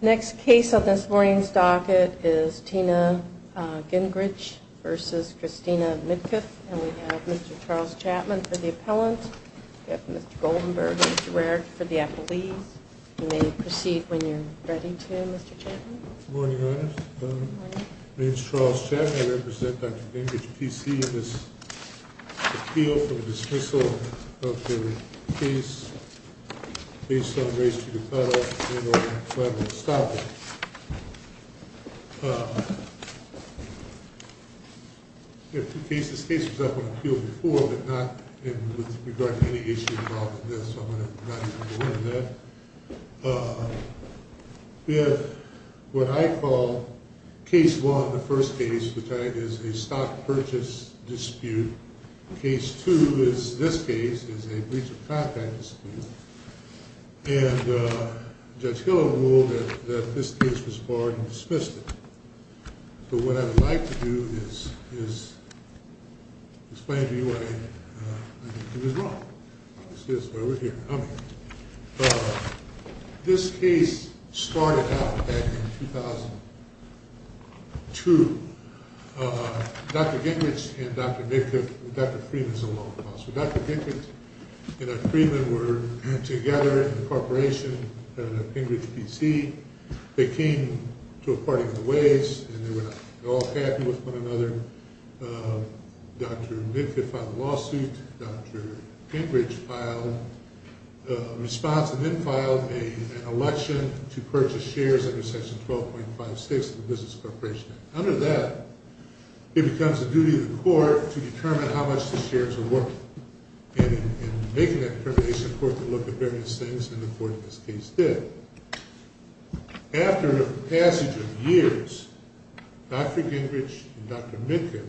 Next case on this morning's docket is Tina Gingrich v. Christina Midkiff, and we have Mr. Charles Chapman for the appellant. We have Mr. Goldenberg and Mr. Ware for the appellees. You may proceed when you're ready to, Mr. Chapman. Good morning, Your Honor. My name is Charles Chapman. I represent Dr. Gingrich, PC, in this appeal for the dismissal of the case based on race to the clad office and over in Cladwell-Stoppa. This case was up on appeal before, but not with regard to any issue involving this, so I'm not going to go into that. We have what I call Case 1, the first case, which is a stock purchase dispute. Case 2 is this case, which is a breach of contract dispute. And Judge Hill ruled that this case was barred and dismissed it. So what I would like to do is explain to you why I think it was wrong. This case started out back in 2002. Dr. Gingrich and Dr. Midkiff – Dr. Freeman is a law professor – Dr. Midkiff and Dr. Freeman were together in a corporation at Gingrich, PC. They came to a parting of the ways and they were not at all happy with one another. Dr. Midkiff filed a lawsuit. Dr. Gingrich filed a response and then filed an election to purchase shares under Section 12.56 of the Business Corporation Act. Under that, it becomes the duty of the court to determine how much the shares are worth. And in making that determination, the court could look at various things, and the court in this case did. After a passage of years, Dr. Gingrich and Dr. Midkiff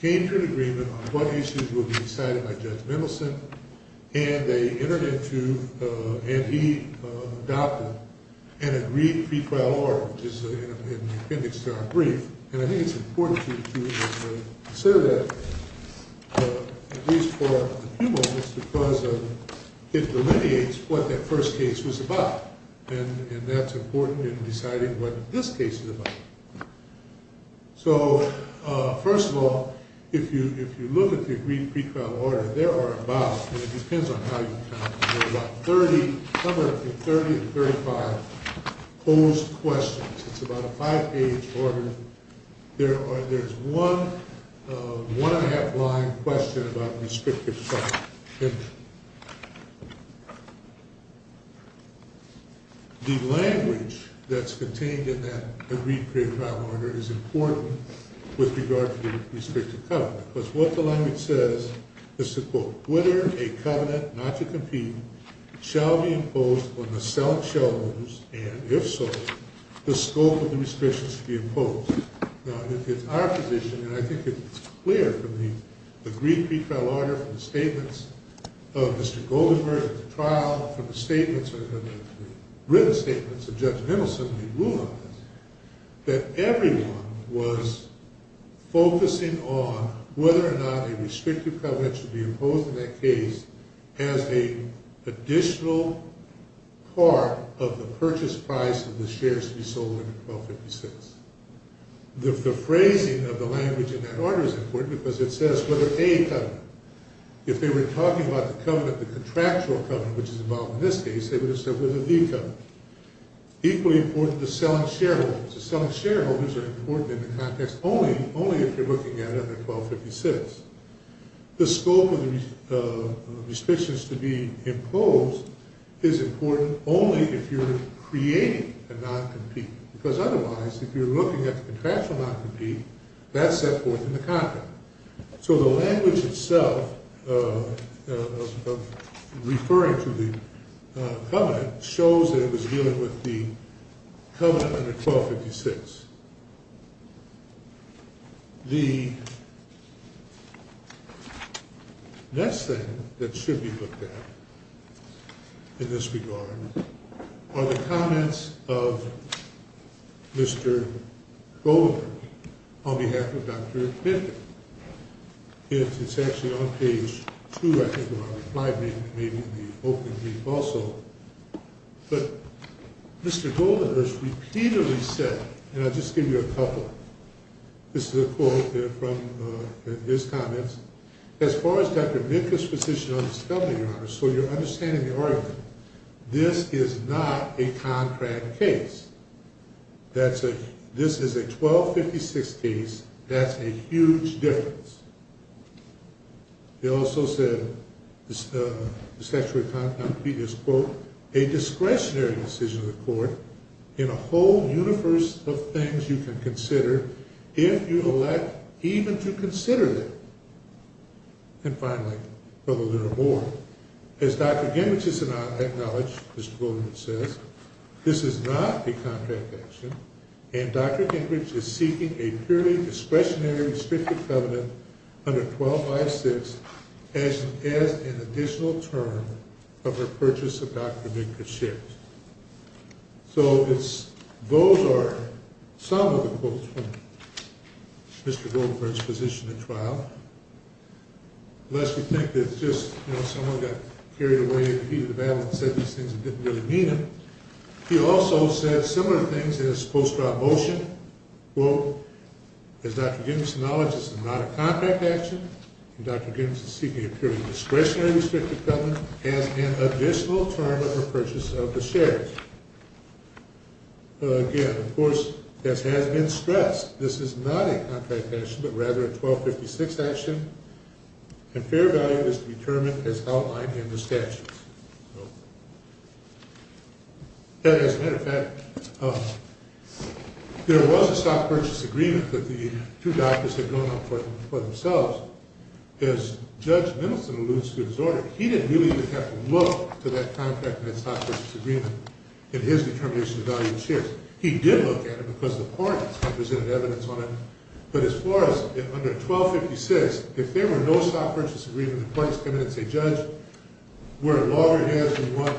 came to an agreement on what issues would be decided by Judge Mendelson, and he adopted an agreed pre-trial order, which is in the appendix to our brief. And I think it's important to consider that, at least for a few moments, because it delineates what that first case was about. And that's important in deciding what this case is about. So, first of all, if you look at the agreed pre-trial order, there are about, and it depends on how you count, there are about 30, somewhere between 30 and 35 posed questions. It's about a five-page order. There's one one-and-a-half-line question about restrictive filing. And the language that's contained in that agreed pre-trial order is important with regard to the restrictive covenant, because what the language says is to, quote, whether a covenant not to compete shall be imposed on the selling shareholders, and if so, the scope of the restrictions to be imposed. Now, if it's our position, and I think it's clear from the agreed pre-trial order, from the statements of Mr. Goldenberg at the trial, from the statements, or the written statements of Judge Mendelson when he ruled on this, that everyone was focusing on whether or not a restrictive covenant should be imposed in that case has an additional part of the purchase price of the shares to be sold under 1256. The phrasing of the language in that order is important because it says whether a covenant, if they were talking about the covenant, the contractual covenant, which is involved in this case, they would have said whether the covenant. Equally important is selling shareholders. The selling shareholders are important in the context only, only if you're looking at it under 1256. The scope of the restrictions to be imposed is important only if you're creating a non-compete, because otherwise, if you're looking at the contractual non-compete, that's set forth in the contract. So the language itself of referring to the covenant shows that it was dealing with the covenant under 1256. The next thing that should be looked at in this regard are the comments of Mr. Goldenberg on behalf of Dr. Bifkin. It's actually on page 2, I think, of our reply, maybe in the opening brief also. But Mr. Goldenberg has repeatedly said, and I'll just give you a couple. This is a quote from his comments. As far as Dr. Bifkin's position on this covenant, Your Honor, so you're understanding the argument, this is not a contract case. This is a 1256 case. That's a huge difference. He also said, this statutory non-compete is, quote, a discretionary decision of the court in a whole universe of things you can consider if you elect even to consider them. And finally, furthermore, as Dr. Gingrich has acknowledged, Mr. Goldenberg says, this is not a contract action, and Dr. Gingrich is seeking a purely discretionary restricted covenant under 1256 as an additional term of her purchase of Dr. Bifkin's shares. So those are some of the quotes from Mr. Goldenberg's position at trial. Unless you think that just, you know, someone got carried away and defeated the battle and said these things and didn't really mean them. He also said similar things in his post-trial motion. Quote, as Dr. Gingrich has acknowledged, this is not a contract action, and Dr. Gingrich is seeking a purely discretionary restricted covenant as an additional term of her purchase of the shares. Again, of course, this has been stressed. This is not a contract action, but rather a 1256 action, and fair value is determined as outlined in the statutes. And as a matter of fact, there was a stock purchase agreement that the two doctors had drawn up for themselves. As Judge Mendelson alludes to his order, he didn't really even have to look to that contract and that stock purchase agreement in his determination of value of the shares. He did look at it because the parties had presented evidence on it. But as far as under 1256, if there were no stock purchase agreement, the parties come in and say, Judge, we're at loggerheads. We want,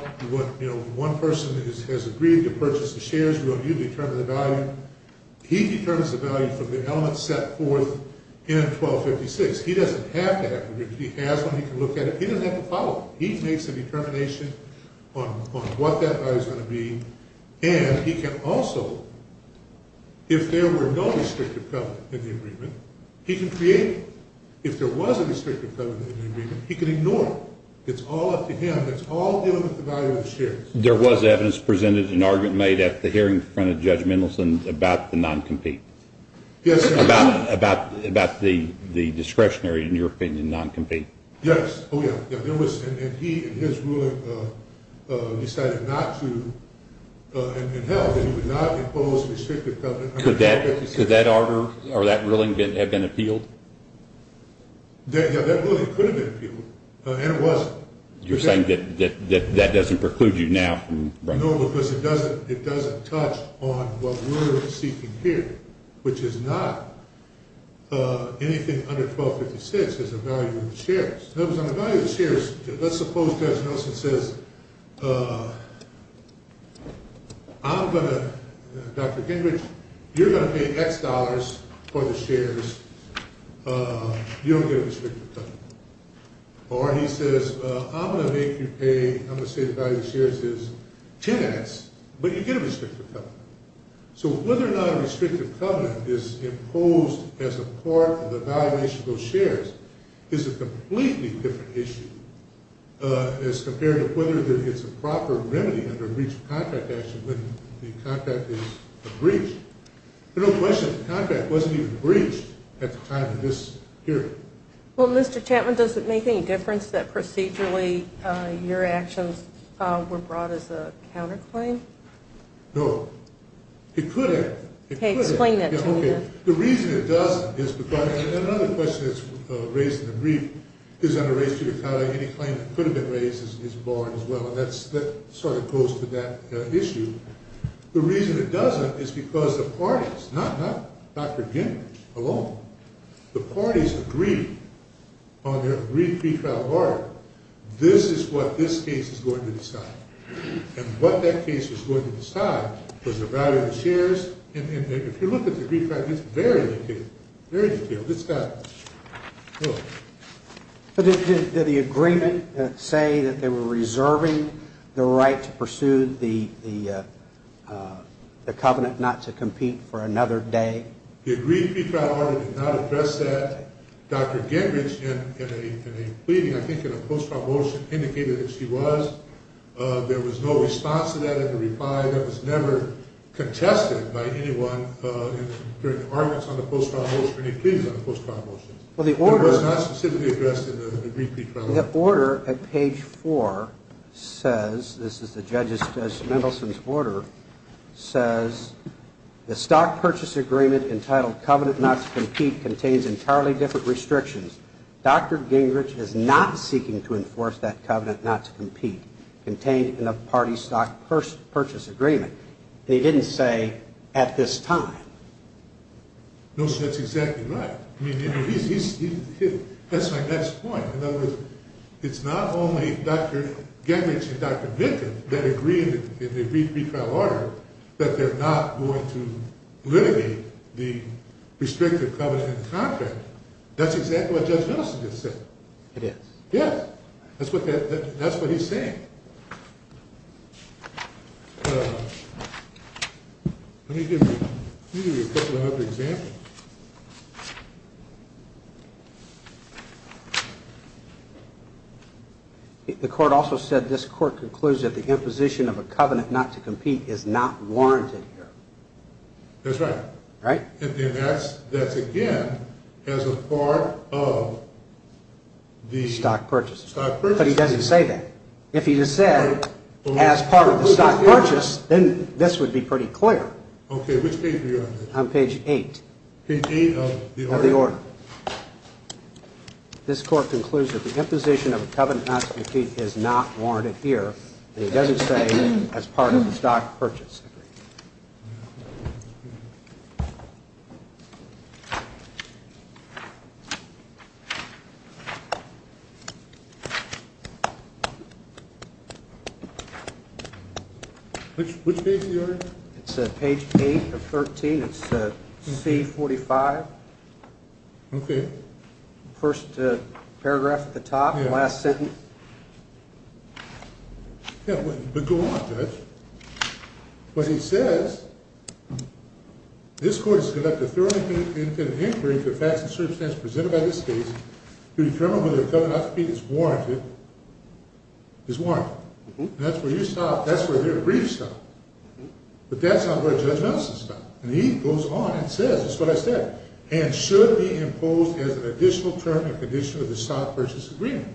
you know, one person has agreed to purchase the shares. We want you to determine the value. He determines the value from the elements set forth in 1256. He doesn't have to have to agree. If he has one, he can look at it. He doesn't have to follow it. He makes a determination on what that value is going to be. And he can also, if there were no restrictive covenant in the agreement, he can create it. If there was a restrictive covenant in the agreement, he can ignore it. It's all up to him. It's all dealing with the value of the shares. There was evidence presented and argument made at the hearing in front of Judge Mendelson about the non-compete. Yes. About the discretionary, in your opinion, non-compete. Yes. Oh, yeah. And he and his ruling decided not to and held that he would not impose restrictive covenant under 1256. Could that order or that ruling have been appealed? Yeah, that ruling could have been appealed. And it wasn't. You're saying that that doesn't preclude you now? No, because it doesn't touch on what we're seeking here, which is not anything under 1256 as a value of the shares. On the value of the shares, let's suppose Judge Mendelson says, I'm going to, Dr. Gingrich, you're going to pay X dollars for the shares. You don't get a restrictive covenant. Or he says, I'm going to make you pay, I'm going to say the value of the shares is 10X, but you get a restrictive covenant. So whether or not a restrictive covenant is imposed as a part of the valuation of those shares is a completely different issue as compared to whether it's a proper remedy under breach of contract action when the contract is a breach. There's no question the contract wasn't even breached at the time of this hearing. Well, Mr. Chapman, does it make any difference that procedurally your actions were brought as a counterclaim? No. It could have. Okay, explain that to me now. The reason it doesn't is because, and another question that's raised in the brief is under restrictive covenant, any claim that could have been raised is barred as well, and that sort of goes to that issue. The reason it doesn't is because the parties, not Dr. Gingrich alone, the parties agreed on their agreed pretrial barter, this is what this case is going to decide. And what that case was going to decide was the value of the shares, and if you look at the brief, it's very detailed. It's got, look. Did the agreement say that they were reserving the right to pursue the covenant not to compete for another day? The agreed pretrial barter did not address that. Dr. Gingrich, in a pleading, I think in a post-trial motion, indicated that she was. There was no response to that in the reply. That was never contested by anyone during the arguments on the post-trial motion or any pleadings on the post-trial motion. It was not specifically addressed in the agreed pretrial barter. The order at page four says, this is the judge's, Mr. Mendelson's order, says the stock purchase agreement entitled covenant not to compete contains entirely different restrictions. Dr. Gingrich is not seeking to enforce that covenant not to compete contained in a party stock purchase agreement. They didn't say at this time. No, sir, that's exactly right. That's my next point. In other words, it's not only Dr. Gingrich and Dr. Vicka that agree in the agreed pretrial barter that they're not going to litigate the restrictive covenant contract. That's exactly what Judge Mendelson just said. It is? Yeah. That's what he's saying. Let me give you a couple of other examples. The court also said this court concludes that the imposition of a covenant not to compete is not warranted here. That's right. Right. That's again as a part of the stock purchase. Stock purchase. But he doesn't say that. If he just said as part of the stock purchase, then this would be pretty clear. Okay. Which page are you on? I'm on page eight. Page eight of the order. Of the order. This court concludes that the imposition of a covenant not to compete is not warranted here. And he doesn't say as part of the stock purchase. Which page are you on? It's page eight of 13. It's C45. Okay. First paragraph at the top. Yeah. Last sentence. Yeah, but go on, Judge. What he says, this court has conducted a thorough and independent inquiry into the facts and circumstances presented by this case to determine whether a covenant not to compete is warranted. Is warranted. And that's where you stop. That's where the brief stop. But that's not where Judge Mendelson stopped. And he goes on and says, that's what I said, and should be imposed as an additional term and condition of the stock purchase agreement.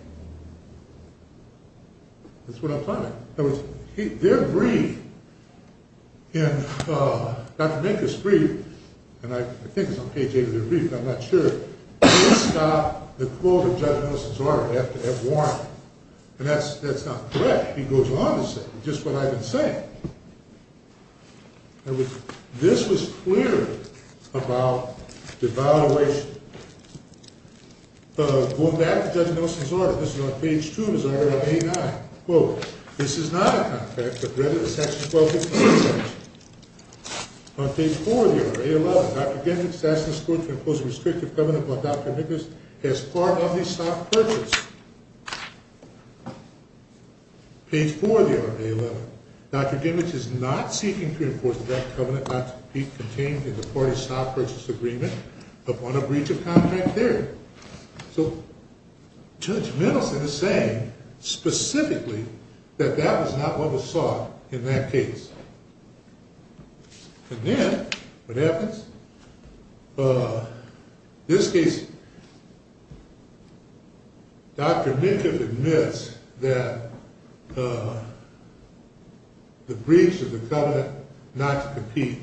That's what I'm talking about. In other words, their brief in Dr. Mankin's brief, and I think it's on page eight of their brief, but I'm not sure. They stop the quote of Judge Mendelson's order at warrant. And that's not correct. He goes on to say, just what I've been saying. This was clear about devaluation. Going back to Judge Mendelson's order. This is on page two of his order on A9. Quote, this is not a contract but rather the section 12 of the contract. On page four of the order, A11. Dr. Gensink's asking this court to impose a restrictive covenant by Dr. Minkus as part of the stock purchase. Page four of the order, A11. Dr. Gensink is not seeking to enforce that covenant not to be contained in the part of stock purchase agreement upon a breach of contract theory. So Judge Mendelson is saying specifically that that was not what was sought in that case. And then what happens? In this case, Dr. Minkus admits that the breach of the covenant not to compete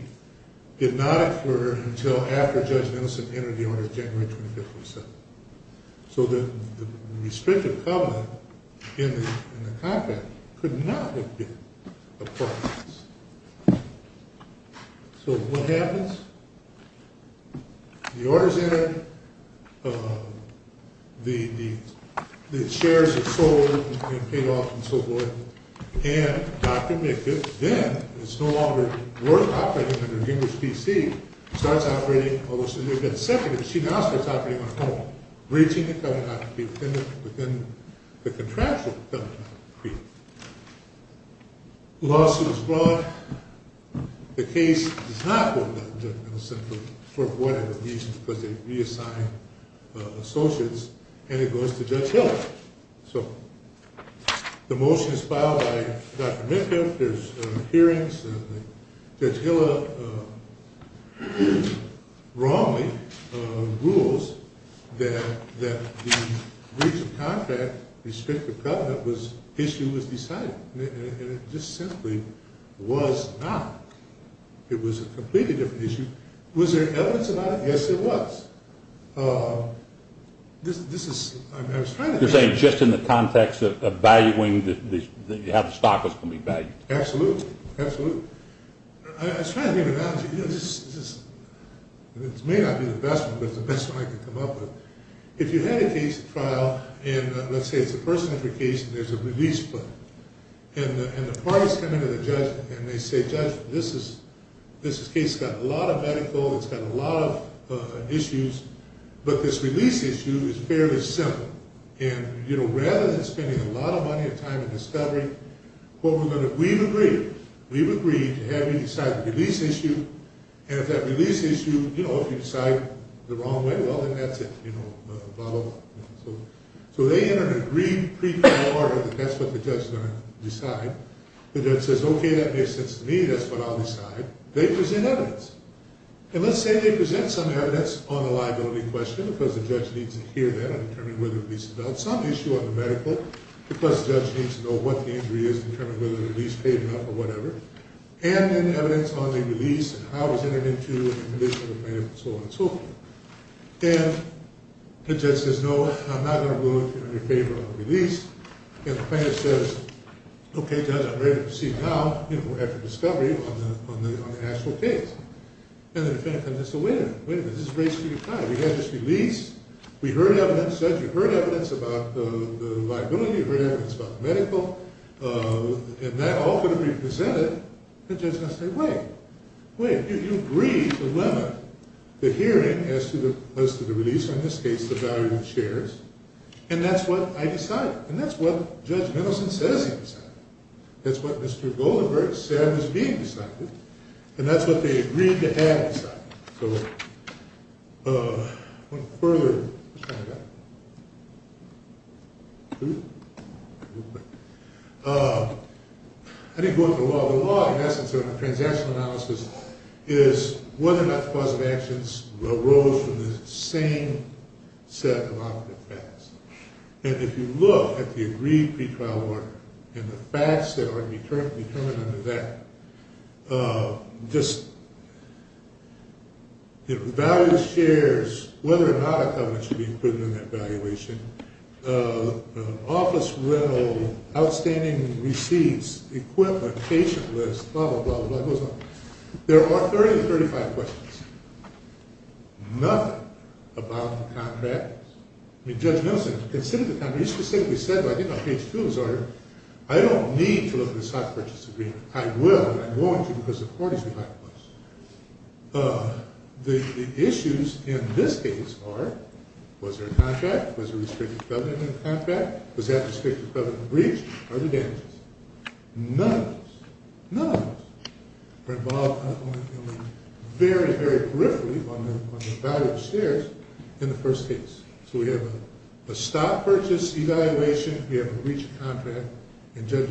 did not occur until after Judge Mendelson entered the order January 25, 2007. So the restrictive covenant in the contract could not have been a part of this. So what happens? The order's entered. The shares are sold and paid off and so forth. And Dr. Minkus then, it's no longer worth operating under Gingrich PC, starts operating, although she may have been seconded, she now starts operating on home. Breaching the covenant not to be within the contractual covenant not to be. Lawsuit is brought. The case is not opened by Judge Mendelson for whatever reason, because they reassigned associates. And it goes to Judge Hill. So the motion is filed by Dr. Minkus. There's hearings. Judge Hill wrongly rules that the breach of contract restrictive covenant issue was decided. And it just simply was not. It was a completely different issue. Was there evidence about it? Yes, there was. You're saying just in the context of valuing, that you have the stock that's going to be valued? Absolutely. Absolutely. I was trying to give an analogy. This may not be the best one, but it's the best one I could come up with. If you had a case, a trial, and let's say it's a person of your case and there's a release plan. And the parties come in to the judge and they say, Judge, this case has got a lot of medical. It's got a lot of issues. But this release issue is fairly simple. And rather than spending a lot of money and time and discovery, we've agreed to have you decide the release issue. And if that release issue, if you decide the wrong way, well, then that's it. You know, blah, blah, blah. So they enter an agreed pre-court order that that's what the judge is going to decide. The judge says, Okay, that makes sense to me. That's what I'll decide. They present evidence. And let's say they present some evidence on a liability question because the judge needs to hear that and determine whether the release is about some issue on the medical because the judge needs to know what the injury is and determine whether the release paid enough or whatever. And then evidence on the release and how it was entered into and the condition of the plaintiff and so on and so forth. And the judge says, No, I'm not going to go in your favor on the release. And the plaintiff says, Okay, judge, I'm ready to proceed now, you know, after discovery on the actual case. And the defendant comes in and says, Wait a minute. Wait a minute. This is a great speed of time. We had this release. We heard evidence. You heard evidence about the liability. You heard evidence about the medical. And that all could be presented. The judge is going to say, Wait. Wait. You agreed to limit the hearing as to the release, in this case, the value of the shares. And that's what I decided. And that's what Judge Mendelson says he decided. That's what Mr. Goldenberg said was being decided. And that's what they agreed to have decided. So I want to further expand that. I didn't go into the law. The law, in essence of a transactional analysis, is whether or not the cause of actions arose from the same set of operative facts. And if you look at the agreed pre-trial order and the facts that are determined under that, just the value of the shares, whether or not a covenant should be included in that valuation, office rental, outstanding receipts, equipment, patient list, blah, blah, blah, blah. It goes on. There are 30 to 35 questions. Nothing about the contract. I mean, Judge Mendelson considered the contract. He specifically said, I think on page 2 of his order, I don't need to look at the stock purchase agreement. I will, and I'm going to because the parties do have a voice. The issues in this case are, was there a contract? Was there a restricted covenant in the contract? Was that restricted covenant breached? Are there damages? None of those. None of those were involved very, very briefly on the value of the shares in the first case. So we have a stock purchase evaluation. We have a breach of contract. And Judge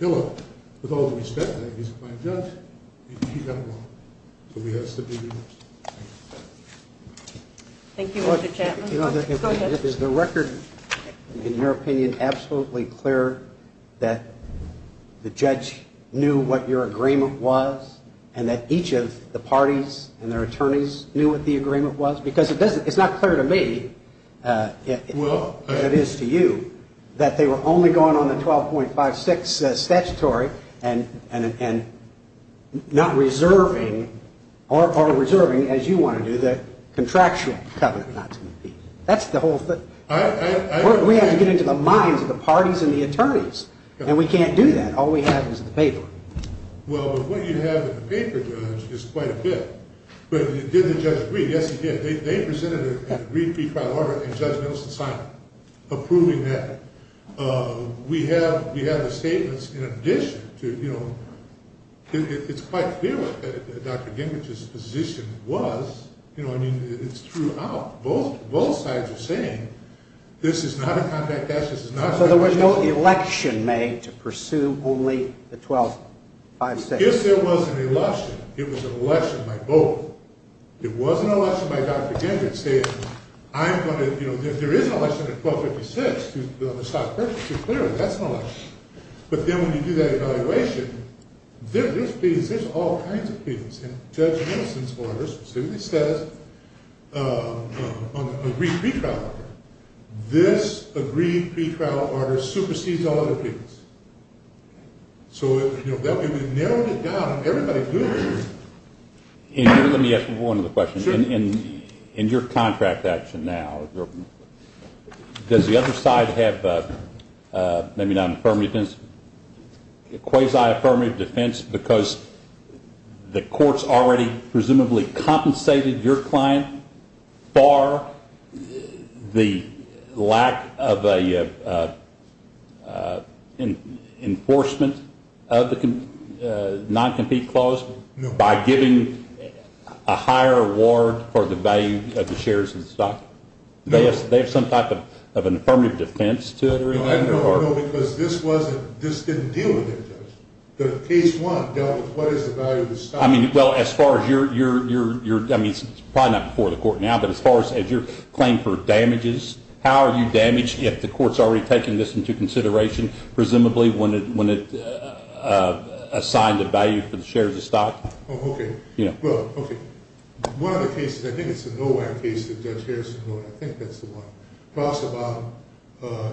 Hillel, with all due respect, he's a fine judge. He got it wrong. So he has to be reversed. Thank you. Thank you, Mr. Chapman. Go ahead. Is the record, in your opinion, absolutely clear that the judge knew what your agreement was and that each of the parties and their attorneys knew what the agreement was? Because it's not clear to me, as it is to you, that they were only going on the 12.56 statutory and not reserving or reserving, as you want to do, the contractual covenant not to be breached. That's the whole thing. We have to get into the minds of the parties and the attorneys. And we can't do that. All we have is the paper. Well, but what you have in the paper, Judge, is quite a bit. But did the judge agree? Yes, he did. They presented a brief pre-trial order, and Judge Nelson signed it, approving that. We have the statements in addition to, you know, it's quite clear what Dr. Gingrich's position was. You know, I mean, it's true. Both sides are saying this is not a contract. So there was no election made to pursue only the 12.56? Yes, there was an election. It was an election by both. It was an election by Dr. Gingrich saying I'm going to, you know, if there is an election at 12.56, on the stock purchase, clearly that's an election. But then when you do that evaluation, there's all kinds of things. And Judge Nelson's order specifically says on the brief pre-trial order, this agreed pre-trial order supersedes all other things. So, you know, that way we narrowed it down and everybody knew. Let me ask one other question. Sure. In your contract action now, does the other side have maybe not an affirmative defense, a quasi-affirmative defense because the courts already presumably compensated your client for the lack of an enforcement of the non-compete clause by giving a higher award for the value of the shares of the stock? No. They have some type of an affirmative defense to it? No, because this wasn't, this didn't deal with it. The case one dealt with what is the value of the stock. I mean, well, as far as your, I mean, it's probably not before the court now, but as far as your claim for damages, how are you damaged if the court's already taken this into consideration, presumably when it assigned a value for the shares of stock? Oh, okay. Well, okay. One of the cases, I think it's a NOAC case that Judge Harrison wrote. I think that's the one.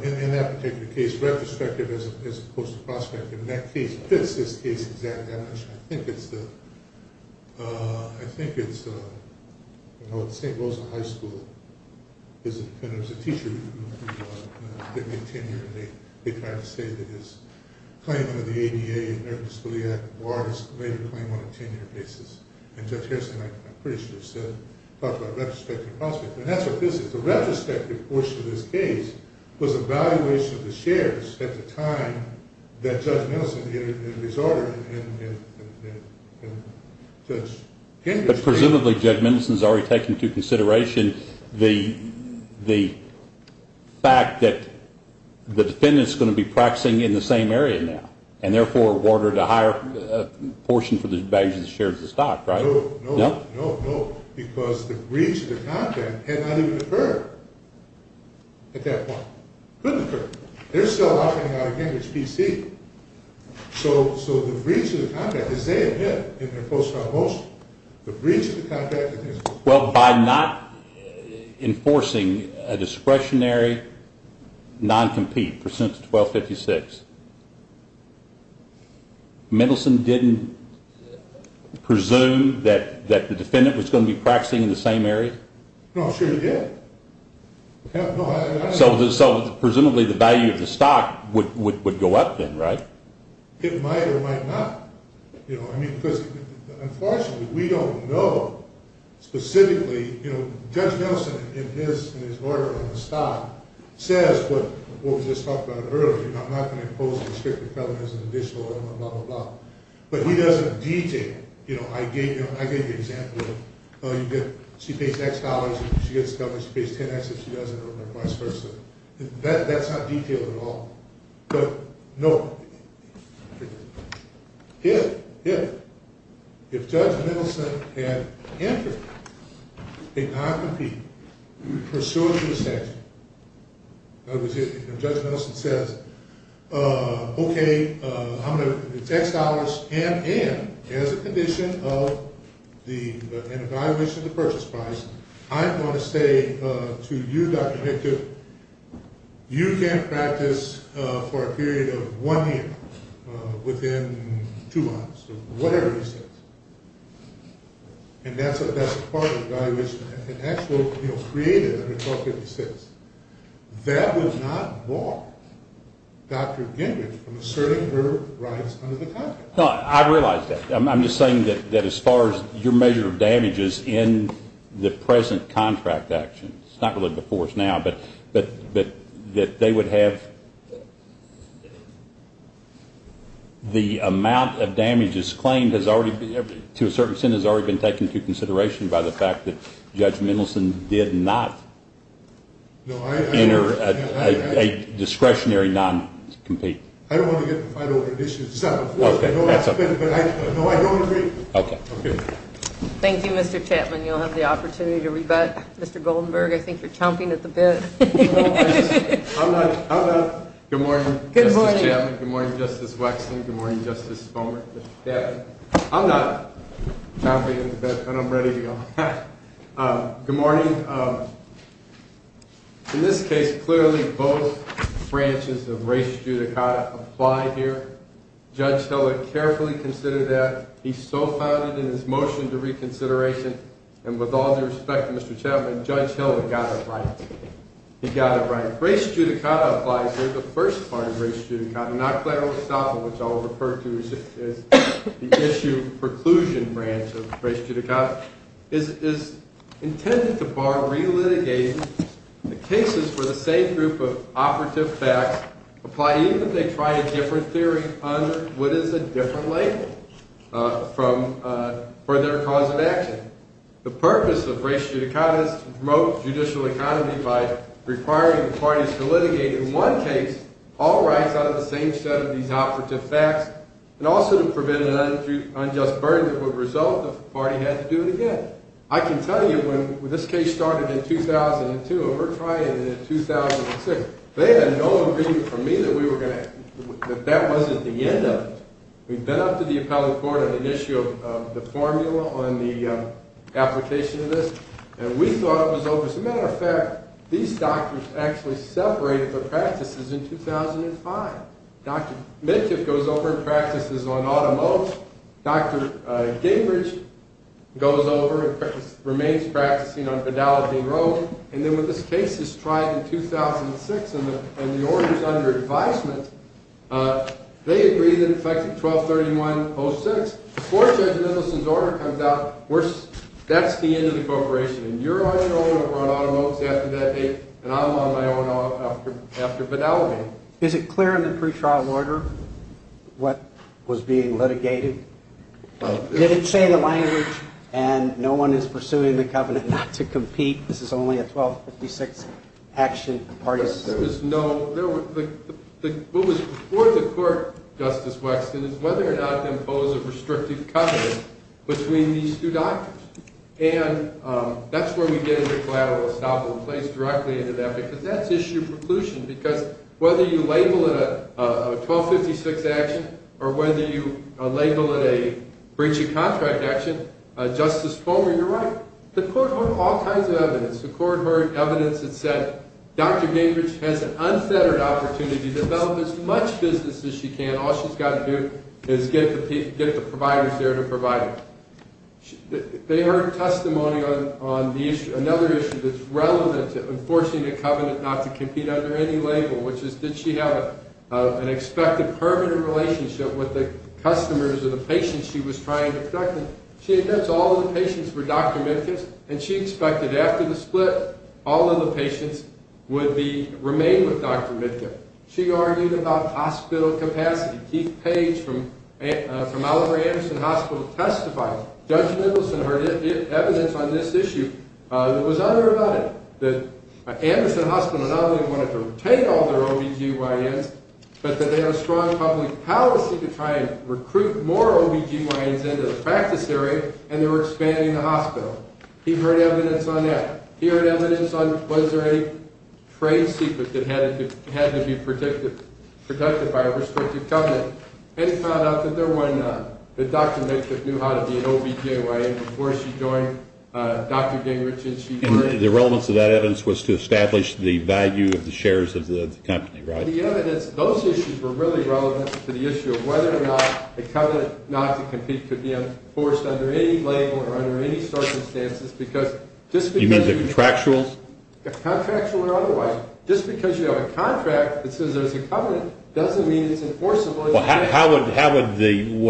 In that particular case, retrospective as opposed to prospective, and that case fits this case exactly. I think it's the, I think it's, you know, at St. Rosa High School there's a teacher who didn't get tenure, and they tried to say that his claim under the ADA and American Disability Act warranted a claim on a tenure basis. And Judge Harrison, I'm pretty sure, said, talked about retrospective and prospective. And that's what this is. The retrospective portion of this case was evaluation of the shares at the time that Judge Mendelson resorted and Judge Henderson. But presumably Judge Mendelson's already taken into consideration the fact that the defendant's going to be practicing in the same area now and therefore awarded a higher portion for the evaluation of the shares of stock, right? No, no. No? No, no. Because the breach of the contract had not even occurred at that point. Couldn't occur. They're still operating out of Cambridge, B.C. So the breach of the contract, as they admit in their post-trial motion, the breach of the contract contains… Well, by not enforcing a discretionary non-compete, Mendelson didn't presume that the defendant was going to be practicing in the same area? No, I'm sure he did. So presumably the value of the stock would go up then, right? It might or it might not. Unfortunately, we don't know specifically. Judge Mendelson, in his order on the stock, says what we just talked about earlier, I'm not going to impose a restricted felony as an additional element, blah, blah, blah. But he doesn't detail. I gave you an example of she pays X dollars if she gets covered, she pays 10X if she doesn't, or vice versa. That's not detailed at all. But, no, if Judge Mendelson had entered a non-compete, pursuant to the statute, Judge Mendelson says, okay, I'm going to, it's X dollars and as a condition of an evaluation of the purchase price, I'm going to say to you, Dr. Victor, you can't practice for a period of one year, within two months, or whatever he says. And that's part of the valuation. An actual creative under 1256, that would not bar Dr. Gingrich from asserting her rights under the contract. No, I realize that. I'm just saying that as far as your measure of damages in the present contract actions, it's not really before us now, but that they would have, the amount of damages claimed has already been, to a certain extent has already been taken into consideration by the fact that Judge Mendelson did not enter a discretionary non-compete. I don't want to get in a fight over an issue. It's not before us. No, I don't agree. Okay. Thank you, Mr. Chapman. You'll have the opportunity to rebut. Mr. Goldenberg, I think you're chomping at the bit. No, I'm not. I'm not. Good morning, Justice Chapman. Good morning. Good morning, Justice Wexler. Good morning, Justice Comer. I'm not chomping at the bit, and I'm ready to go. Good morning. In this case, clearly both branches of res judicata apply here. Judge Hill had carefully considered that. He so founded in his motion to reconsideration, and with all due respect to Mr. Chapman, Judge Hill had got it right. He got it right. Res judicata applies here. The first part of res judicata, not claro estapa, which I'll refer to as the issue preclusion branch of res judicata, is intended to bar relitigating the cases where the same group of operative facts apply, even if they try a different theory under what is a different label for their cause of action. The purpose of res judicata is to promote judicial economy by requiring the parties to litigate, in one case, all rights out of the same set of these operative facts, and also to prevent an unjust burden that would result if the party had to do it again. I can tell you when this case started in 2002 and we're trying it in 2006, they had no agreement from me that that wasn't the end of it. We'd been up to the appellate court on an issue of the formula on the application of this, and we thought it was over. As a matter of fact, these doctors actually separated their practices in 2005. Dr. Minkoff goes over and practices on automobiles. Dr. Gingrich goes over and remains practicing on pedalogy in Rome. And then when this case is tried in 2006 and the order is under advisement, they agree that in effect of 1231-06, before Judge Middleton's order comes out, that's the end of the corporation, and you're on your own or we're on automobiles after that date, and I'm on my own after pedalogy. Is it clear in the pre-trial order what was being litigated? Did it say the language, and no one is pursuing the covenant not to compete? This is only a 1256 action. No. What was before the court, Justice Wexton, is whether or not to impose a restricted covenant between these two doctors. And that's where we get into collateral estoppel. It plays directly into that, because that's issue preclusion, because whether you label it a 1256 action or whether you label it a breaching contract action, Justice Fulmer, you're right. The court heard all kinds of evidence. The court heard evidence that said Dr. Gingrich has an unfettered opportunity to develop as much business as she can. All she's got to do is get the providers there to provide it. They heard testimony on another issue that's relevant to enforcing a covenant not to compete under any label, which is did she have an expected permanent relationship with the customers or the patients she was trying to protect? And she admits all of the patients were Dr. Midkiff's, and she expected after the split all of the patients would remain with Dr. Midkiff. She argued about hospital capacity. Keith Page from Oliver Anderson Hospital testified. Judge Middleton heard evidence on this issue that was other about it, that Anderson Hospital not only wanted to retain all their OBGYNs, but that they had a strong public policy to try and recruit more OBGYNs into the practice area, and they were expanding the hospital. He heard evidence on that. He heard evidence on was there any trade secret that had to be protected by a restricted covenant, and he found out that there was none, that Dr. Midkiff knew how to be an OBGYN before she joined Dr. Gingrich. And the relevance of that evidence was to establish the value of the shares of the company, right? The evidence, those issues were really relevant to the issue of whether or not a covenant not to compete could be enforced under any label or under any circumstances, because just because you have a contract that says there's a covenant doesn't mean it's enforceable. How would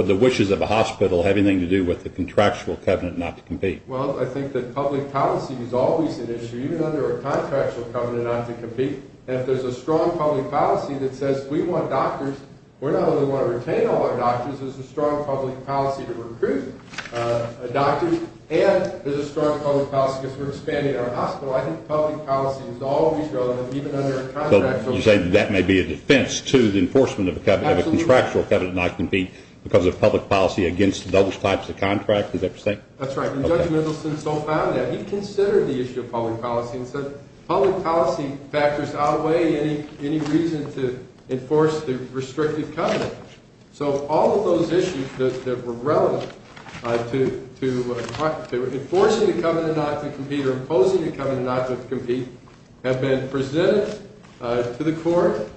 the wishes of a hospital have anything to do with the contractual covenant not to compete? Well, I think that public policy is always an issue, even under a contractual covenant not to compete. If there's a strong public policy that says we want doctors, we're not only going to retain all our doctors, there's a strong public policy to recruit doctors, and there's a strong public policy because we're expanding our hospital. I think public policy is always relevant, even under a contractual covenant not to compete. So you're saying that may be a defense to the enforcement of a contractual covenant not to compete because of public policy against those types of contracts? Is that what you're saying? That's right, and Judge Middleton still found that. He considered the issue of public policy and said public policy factors outweigh any reason to enforce the restrictive covenant. So all of those issues that were relevant to enforcing a covenant not to compete or imposing a covenant not to compete have been presented to the court.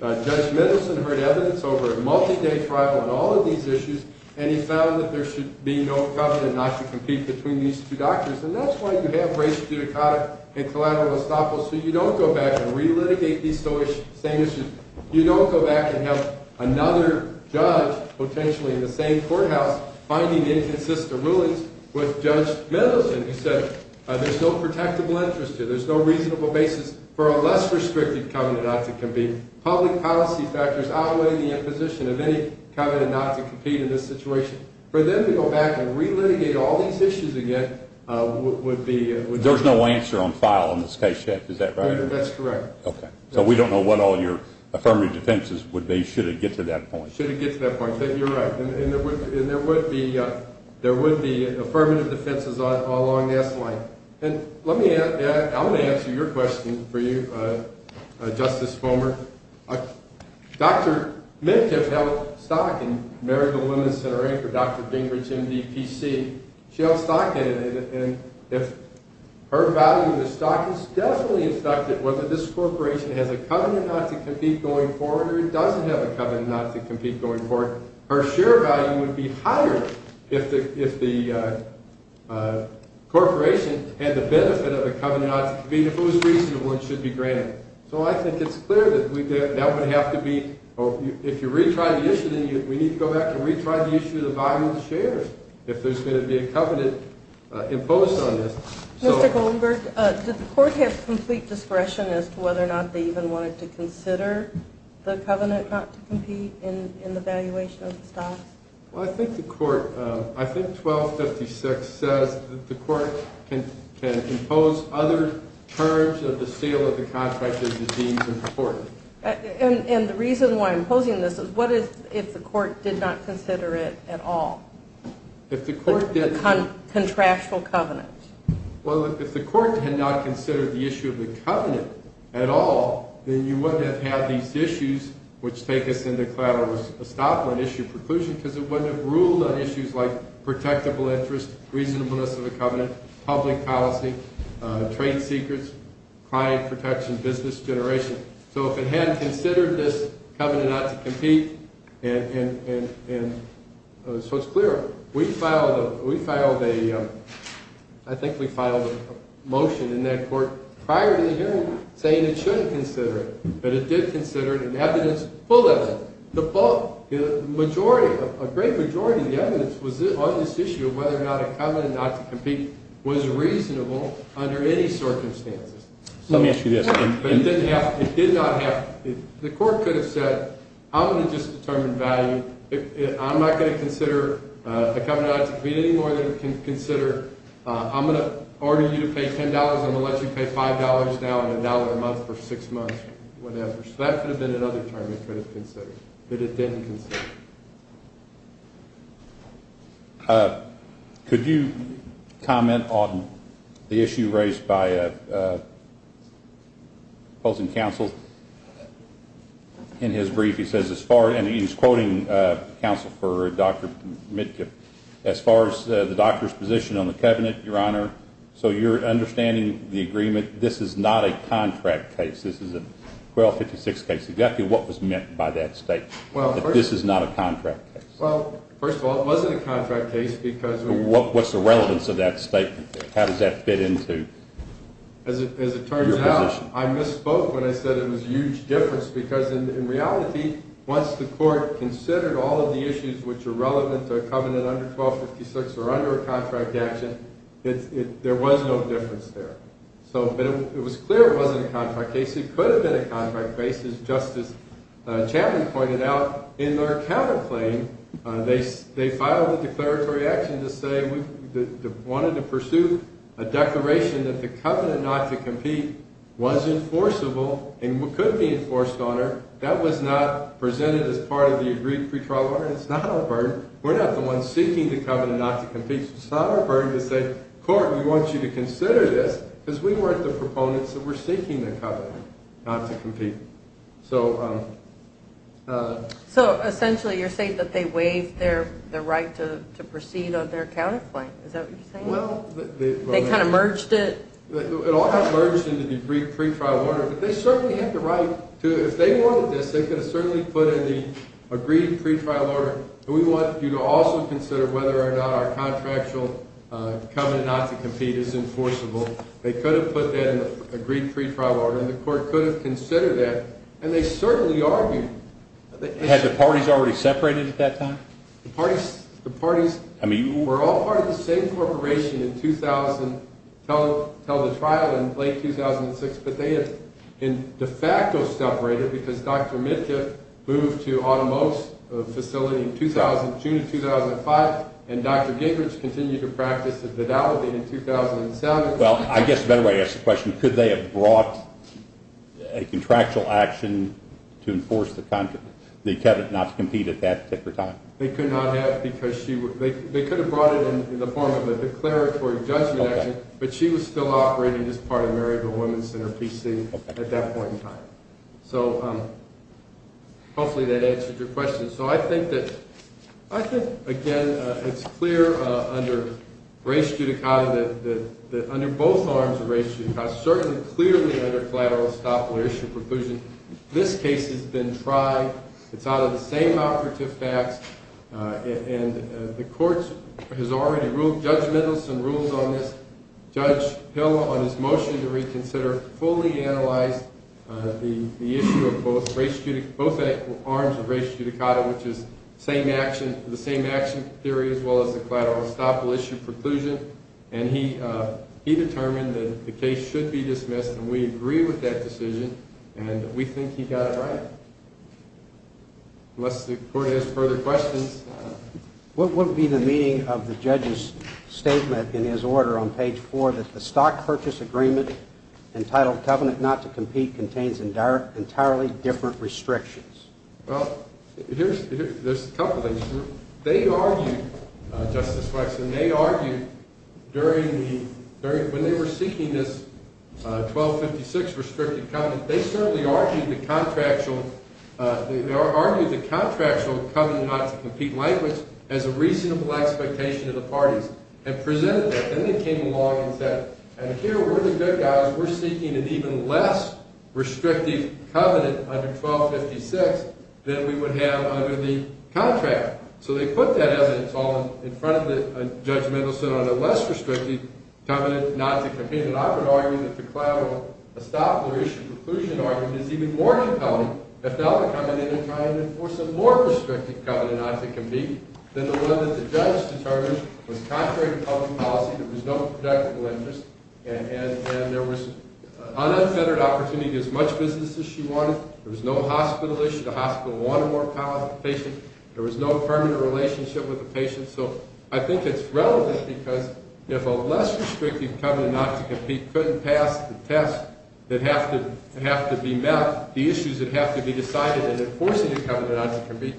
Judge Middleton heard evidence over a multi-day trial on all of these issues, and he found that there should be no covenant not to compete between these two doctors, and that's why you have race judicata and collateral estoppel, so you don't go back and re-litigate these same issues. You don't go back and have another judge, potentially in the same courthouse, finding inconsistent rulings with Judge Middleton who said there's no protectable interest here, there's no reasonable basis for a less restrictive covenant not to compete. Public policy factors outweigh the imposition of any covenant not to compete in this situation. For them to go back and re-litigate all these issues again would be... There's no answer on file on this case yet, is that right? That's correct. Okay, so we don't know what all your affirmative defenses would be should it get to that point. Should it get to that point. You're right, and there would be affirmative defenses along this line. I'm going to answer your question for you, Justice Fulmer. Dr. Middleton has stock in Maryville Women's Center Inc. or Dr. Bingridge MDPC. She has stock in it, and if her value in the stock is definitely in stock, whether this corporation has a covenant not to compete going forward or it doesn't have a covenant not to compete going forward, her share value would be higher if the corporation had the benefit of a covenant not to compete. If it was reasonable, it should be granted. So I think it's clear that that would have to be... If you retry the issue, then we need to go back and retry the issue of the value of the shares if there's going to be a covenant imposed on this. Mr. Goldenberg, did the court have complete discretion as to whether or not they even wanted to consider the covenant not to compete in the valuation of the stock? Well, I think the court, I think 1256 says that the court can impose other terms of the sale of the contract as it deems important. And the reason why I'm posing this is what if the court did not consider it at all? If the court did not... A contractual covenant. Well, if the court had not considered the issue of the covenant at all, then you wouldn't have had these issues which take us into collateral estoppel and issue preclusion because it wouldn't have ruled on issues like protectable interest, reasonableness of the covenant, public policy, trade secrets, client protection, business generation. So if it hadn't considered this covenant not to compete and... So it's clear. We filed a... But it did consider it in evidence, full evidence. The majority, a great majority of the evidence was on this issue of whether or not a covenant not to compete was reasonable under any circumstances. Let me ask you this. It did not have to be. The court could have said, I'm going to just determine value. I'm not going to consider a covenant not to compete anymore than it can consider. I'm going to order you to pay $10. I'm going to let you pay $5 now and $1 a month for six months, whatever. So that could have been another term they could have considered. But it didn't consider. Could you comment on the issue raised by opposing counsel? In his brief, he says as far as, and he's quoting counsel for Dr. Mitkiff, as far as the doctor's position on the covenant, Your Honor. So you're understanding the agreement, this is not a contract case. This is a 1256 case. Exactly what was meant by that statement, that this is not a contract case? Well, first of all, it wasn't a contract case because... What's the relevance of that statement? How does that fit into your position? As it turns out, I misspoke when I said it was a huge difference because in reality, once the court considered all of the issues which are relevant to a covenant under 1256 or under a contract action, there was no difference there. So it was clear it wasn't a contract case. It could have been a contract case just as Chapman pointed out in their counterclaim. They filed a declaratory action to say we wanted to pursue a declaration that the covenant not to compete was enforceable and could be enforced on her. That was not presented as part of the agreed pretrial order. It's not our burden. We're not the ones seeking the covenant not to compete. It's not our burden to say, court, we want you to consider this because we weren't the proponents that were seeking the covenant not to compete. So... So essentially you're saying that they waived their right to proceed on their counterclaim. Is that what you're saying? Well... They kind of merged it? It all got merged into the agreed pretrial order, but they certainly had the right to, if they wanted this, they could have certainly put in the agreed pretrial order. We want you to also consider whether or not our contractual covenant not to compete is enforceable. They could have put that in the agreed pretrial order, and the court could have considered that, and they certainly argued. Had the parties already separated at that time? The parties were all part of the same corporation until the trial in late 2006, but they had in de facto separated because Dr. Mitchell moved to Automo's facility in June of 2005, and Dr. Gingrich continued to practice the fidelity in 2007. Well, I guess the better way to ask the question, could they have brought a contractual action to enforce the covenant not to compete at that particular time? They could not have because they could have brought it in the form of a declaratory judgment action, but she was still operating as part of Maryville Women's Center PC at that point in time. So hopefully that answers your question. So I think, again, it's clear under race judicata that under both arms of race judicata, certainly clearly under collateral estoppel or issue preclusion, this case has been tried. It's out of the same operative facts, and the court has already ruled, Judge Middleton ruled on this. Judge Hill, on his motion to reconsider, fully analyzed the issue of both arms of race judicata, which is the same action theory as well as the collateral estoppel issue preclusion, and he determined that the case should be dismissed, and we agree with that decision, and we think he got it right, unless the court has further questions. What would be the meaning of the judge's statement in his order on page 4 that the stock purchase agreement entitled covenant not to compete contains entirely different restrictions? Well, there's a couple things. They argued, Justice Wexler, they argued when they were seeking this 1256 restricted covenant, they certainly argued the contractual covenant not to compete language as a reasonable expectation of the parties and presented that, then they came along and said, and here we're the good guys, we're seeking an even less restricted covenant under 1256 than we would have under the contract. So they put that evidence all in front of Judge Middleton on a less restricted covenant not to compete, and I would argue that the collateral estoppel or issue preclusion argument is even more compelling if now they're coming in and trying to enforce a more restricted covenant not to compete than the one that the judge determined was contrary to public policy. There was no projectable interest, and there was an unfettered opportunity to do as much business as she wanted. There was no hospital issue. The hospital wanted more power to the patient. There was no permanent relationship with the patient. So I think it's relevant because if a less restricted covenant not to compete couldn't pass the test that have to be met, the issues that have to be decided in enforcing a covenant not to compete,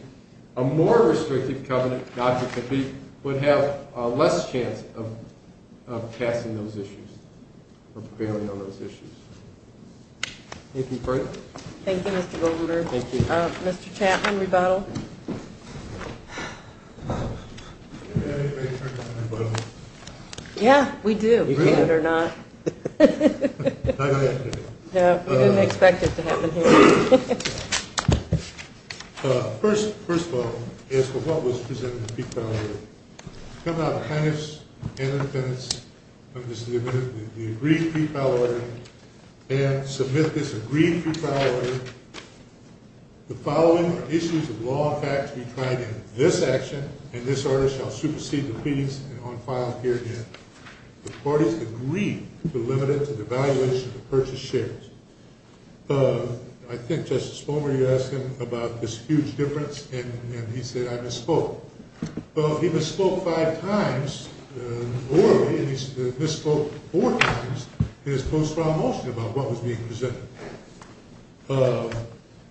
a more restricted covenant not to compete would have a less chance of passing those issues or prevailing on those issues. Thank you, Frank. Thank you, Mr. Goldwater. Thank you. Mr. Chapman, rebuttal. Do we have anybody here for a rebuttal? Yeah, we do. Really? You can't or not. No, go ahead. No, we didn't expect it to happen here. First of all, as for what was presented in the pre-file order, coming out of the plaintiffs and the defendants, the agreed pre-file order, they have to submit this agreed pre-file order. The following are issues of law and facts to be tried in this action, and this order shall supersede the pleas and on file here again. The parties agreed to limit it to the valuation of the purchased shares. I think, Justice Bomer, you asked him about this huge difference, and he said I misspoke. Well, he misspoke five times before me, and he misspoke four times in his post-file motion about what was being presented.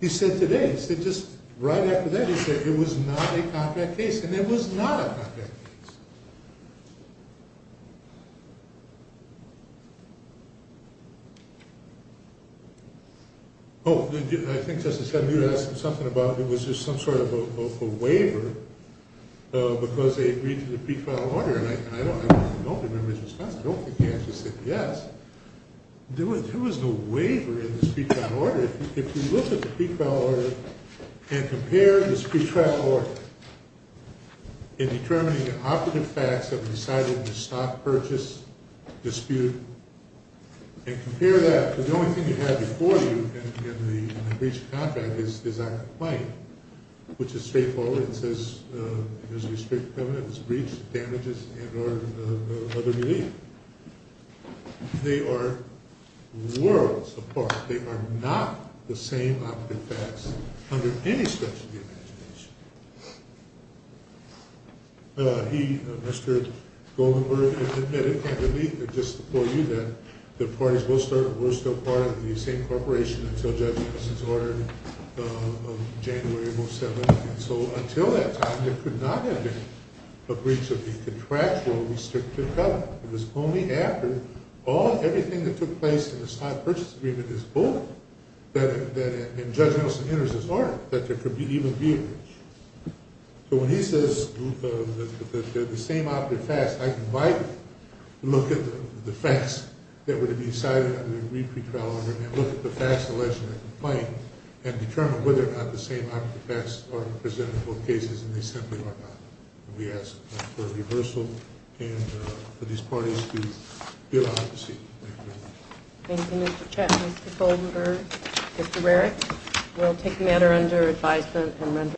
He said today, he said just right after that, he said it was not a contract case, and it was not a contract case. Oh, I think, Justice Edmund, you asked him something about it was just some sort of a waiver because they agreed to the pre-file order, and I don't remember his response. I don't think he actually said yes. There was no waiver in this pre-file order. If you look at the pre-file order and compare this pre-file order in determining the operative facts of deciding the stock purchase dispute and compare that to the only thing you had before you in the breach of contract is our complaint, which is straightforward. It says there's a restricted covenant, there's a breach, damages, and other relief. They are worlds apart. They are not the same operative facts under any stretch of the imagination. He, Mr. Goldenberg, admitted and I believe it just before you that the parties were still part of the same corporation until Judge Nelson's order of January of 07. And so until that time, there could not have been a breach of the contractual restricted covenant. It was only after everything that took place in the stock purchase agreement is bolded and Judge Nelson enters his order that there could even be a breach. So when he says they're the same operative facts, I invite you to look at the facts that were to be decided under the re-pre-file order and look at the facts alleged in the complaint and determine whether or not the same operative facts are presented in both cases and they simply are not. We ask for a reversal and for these parties to be allowed to proceed. Thank you very much. Thank you, Mr. Chet, Mr. Goldenberg, Mr. Rarick. We'll take the matter under advisement.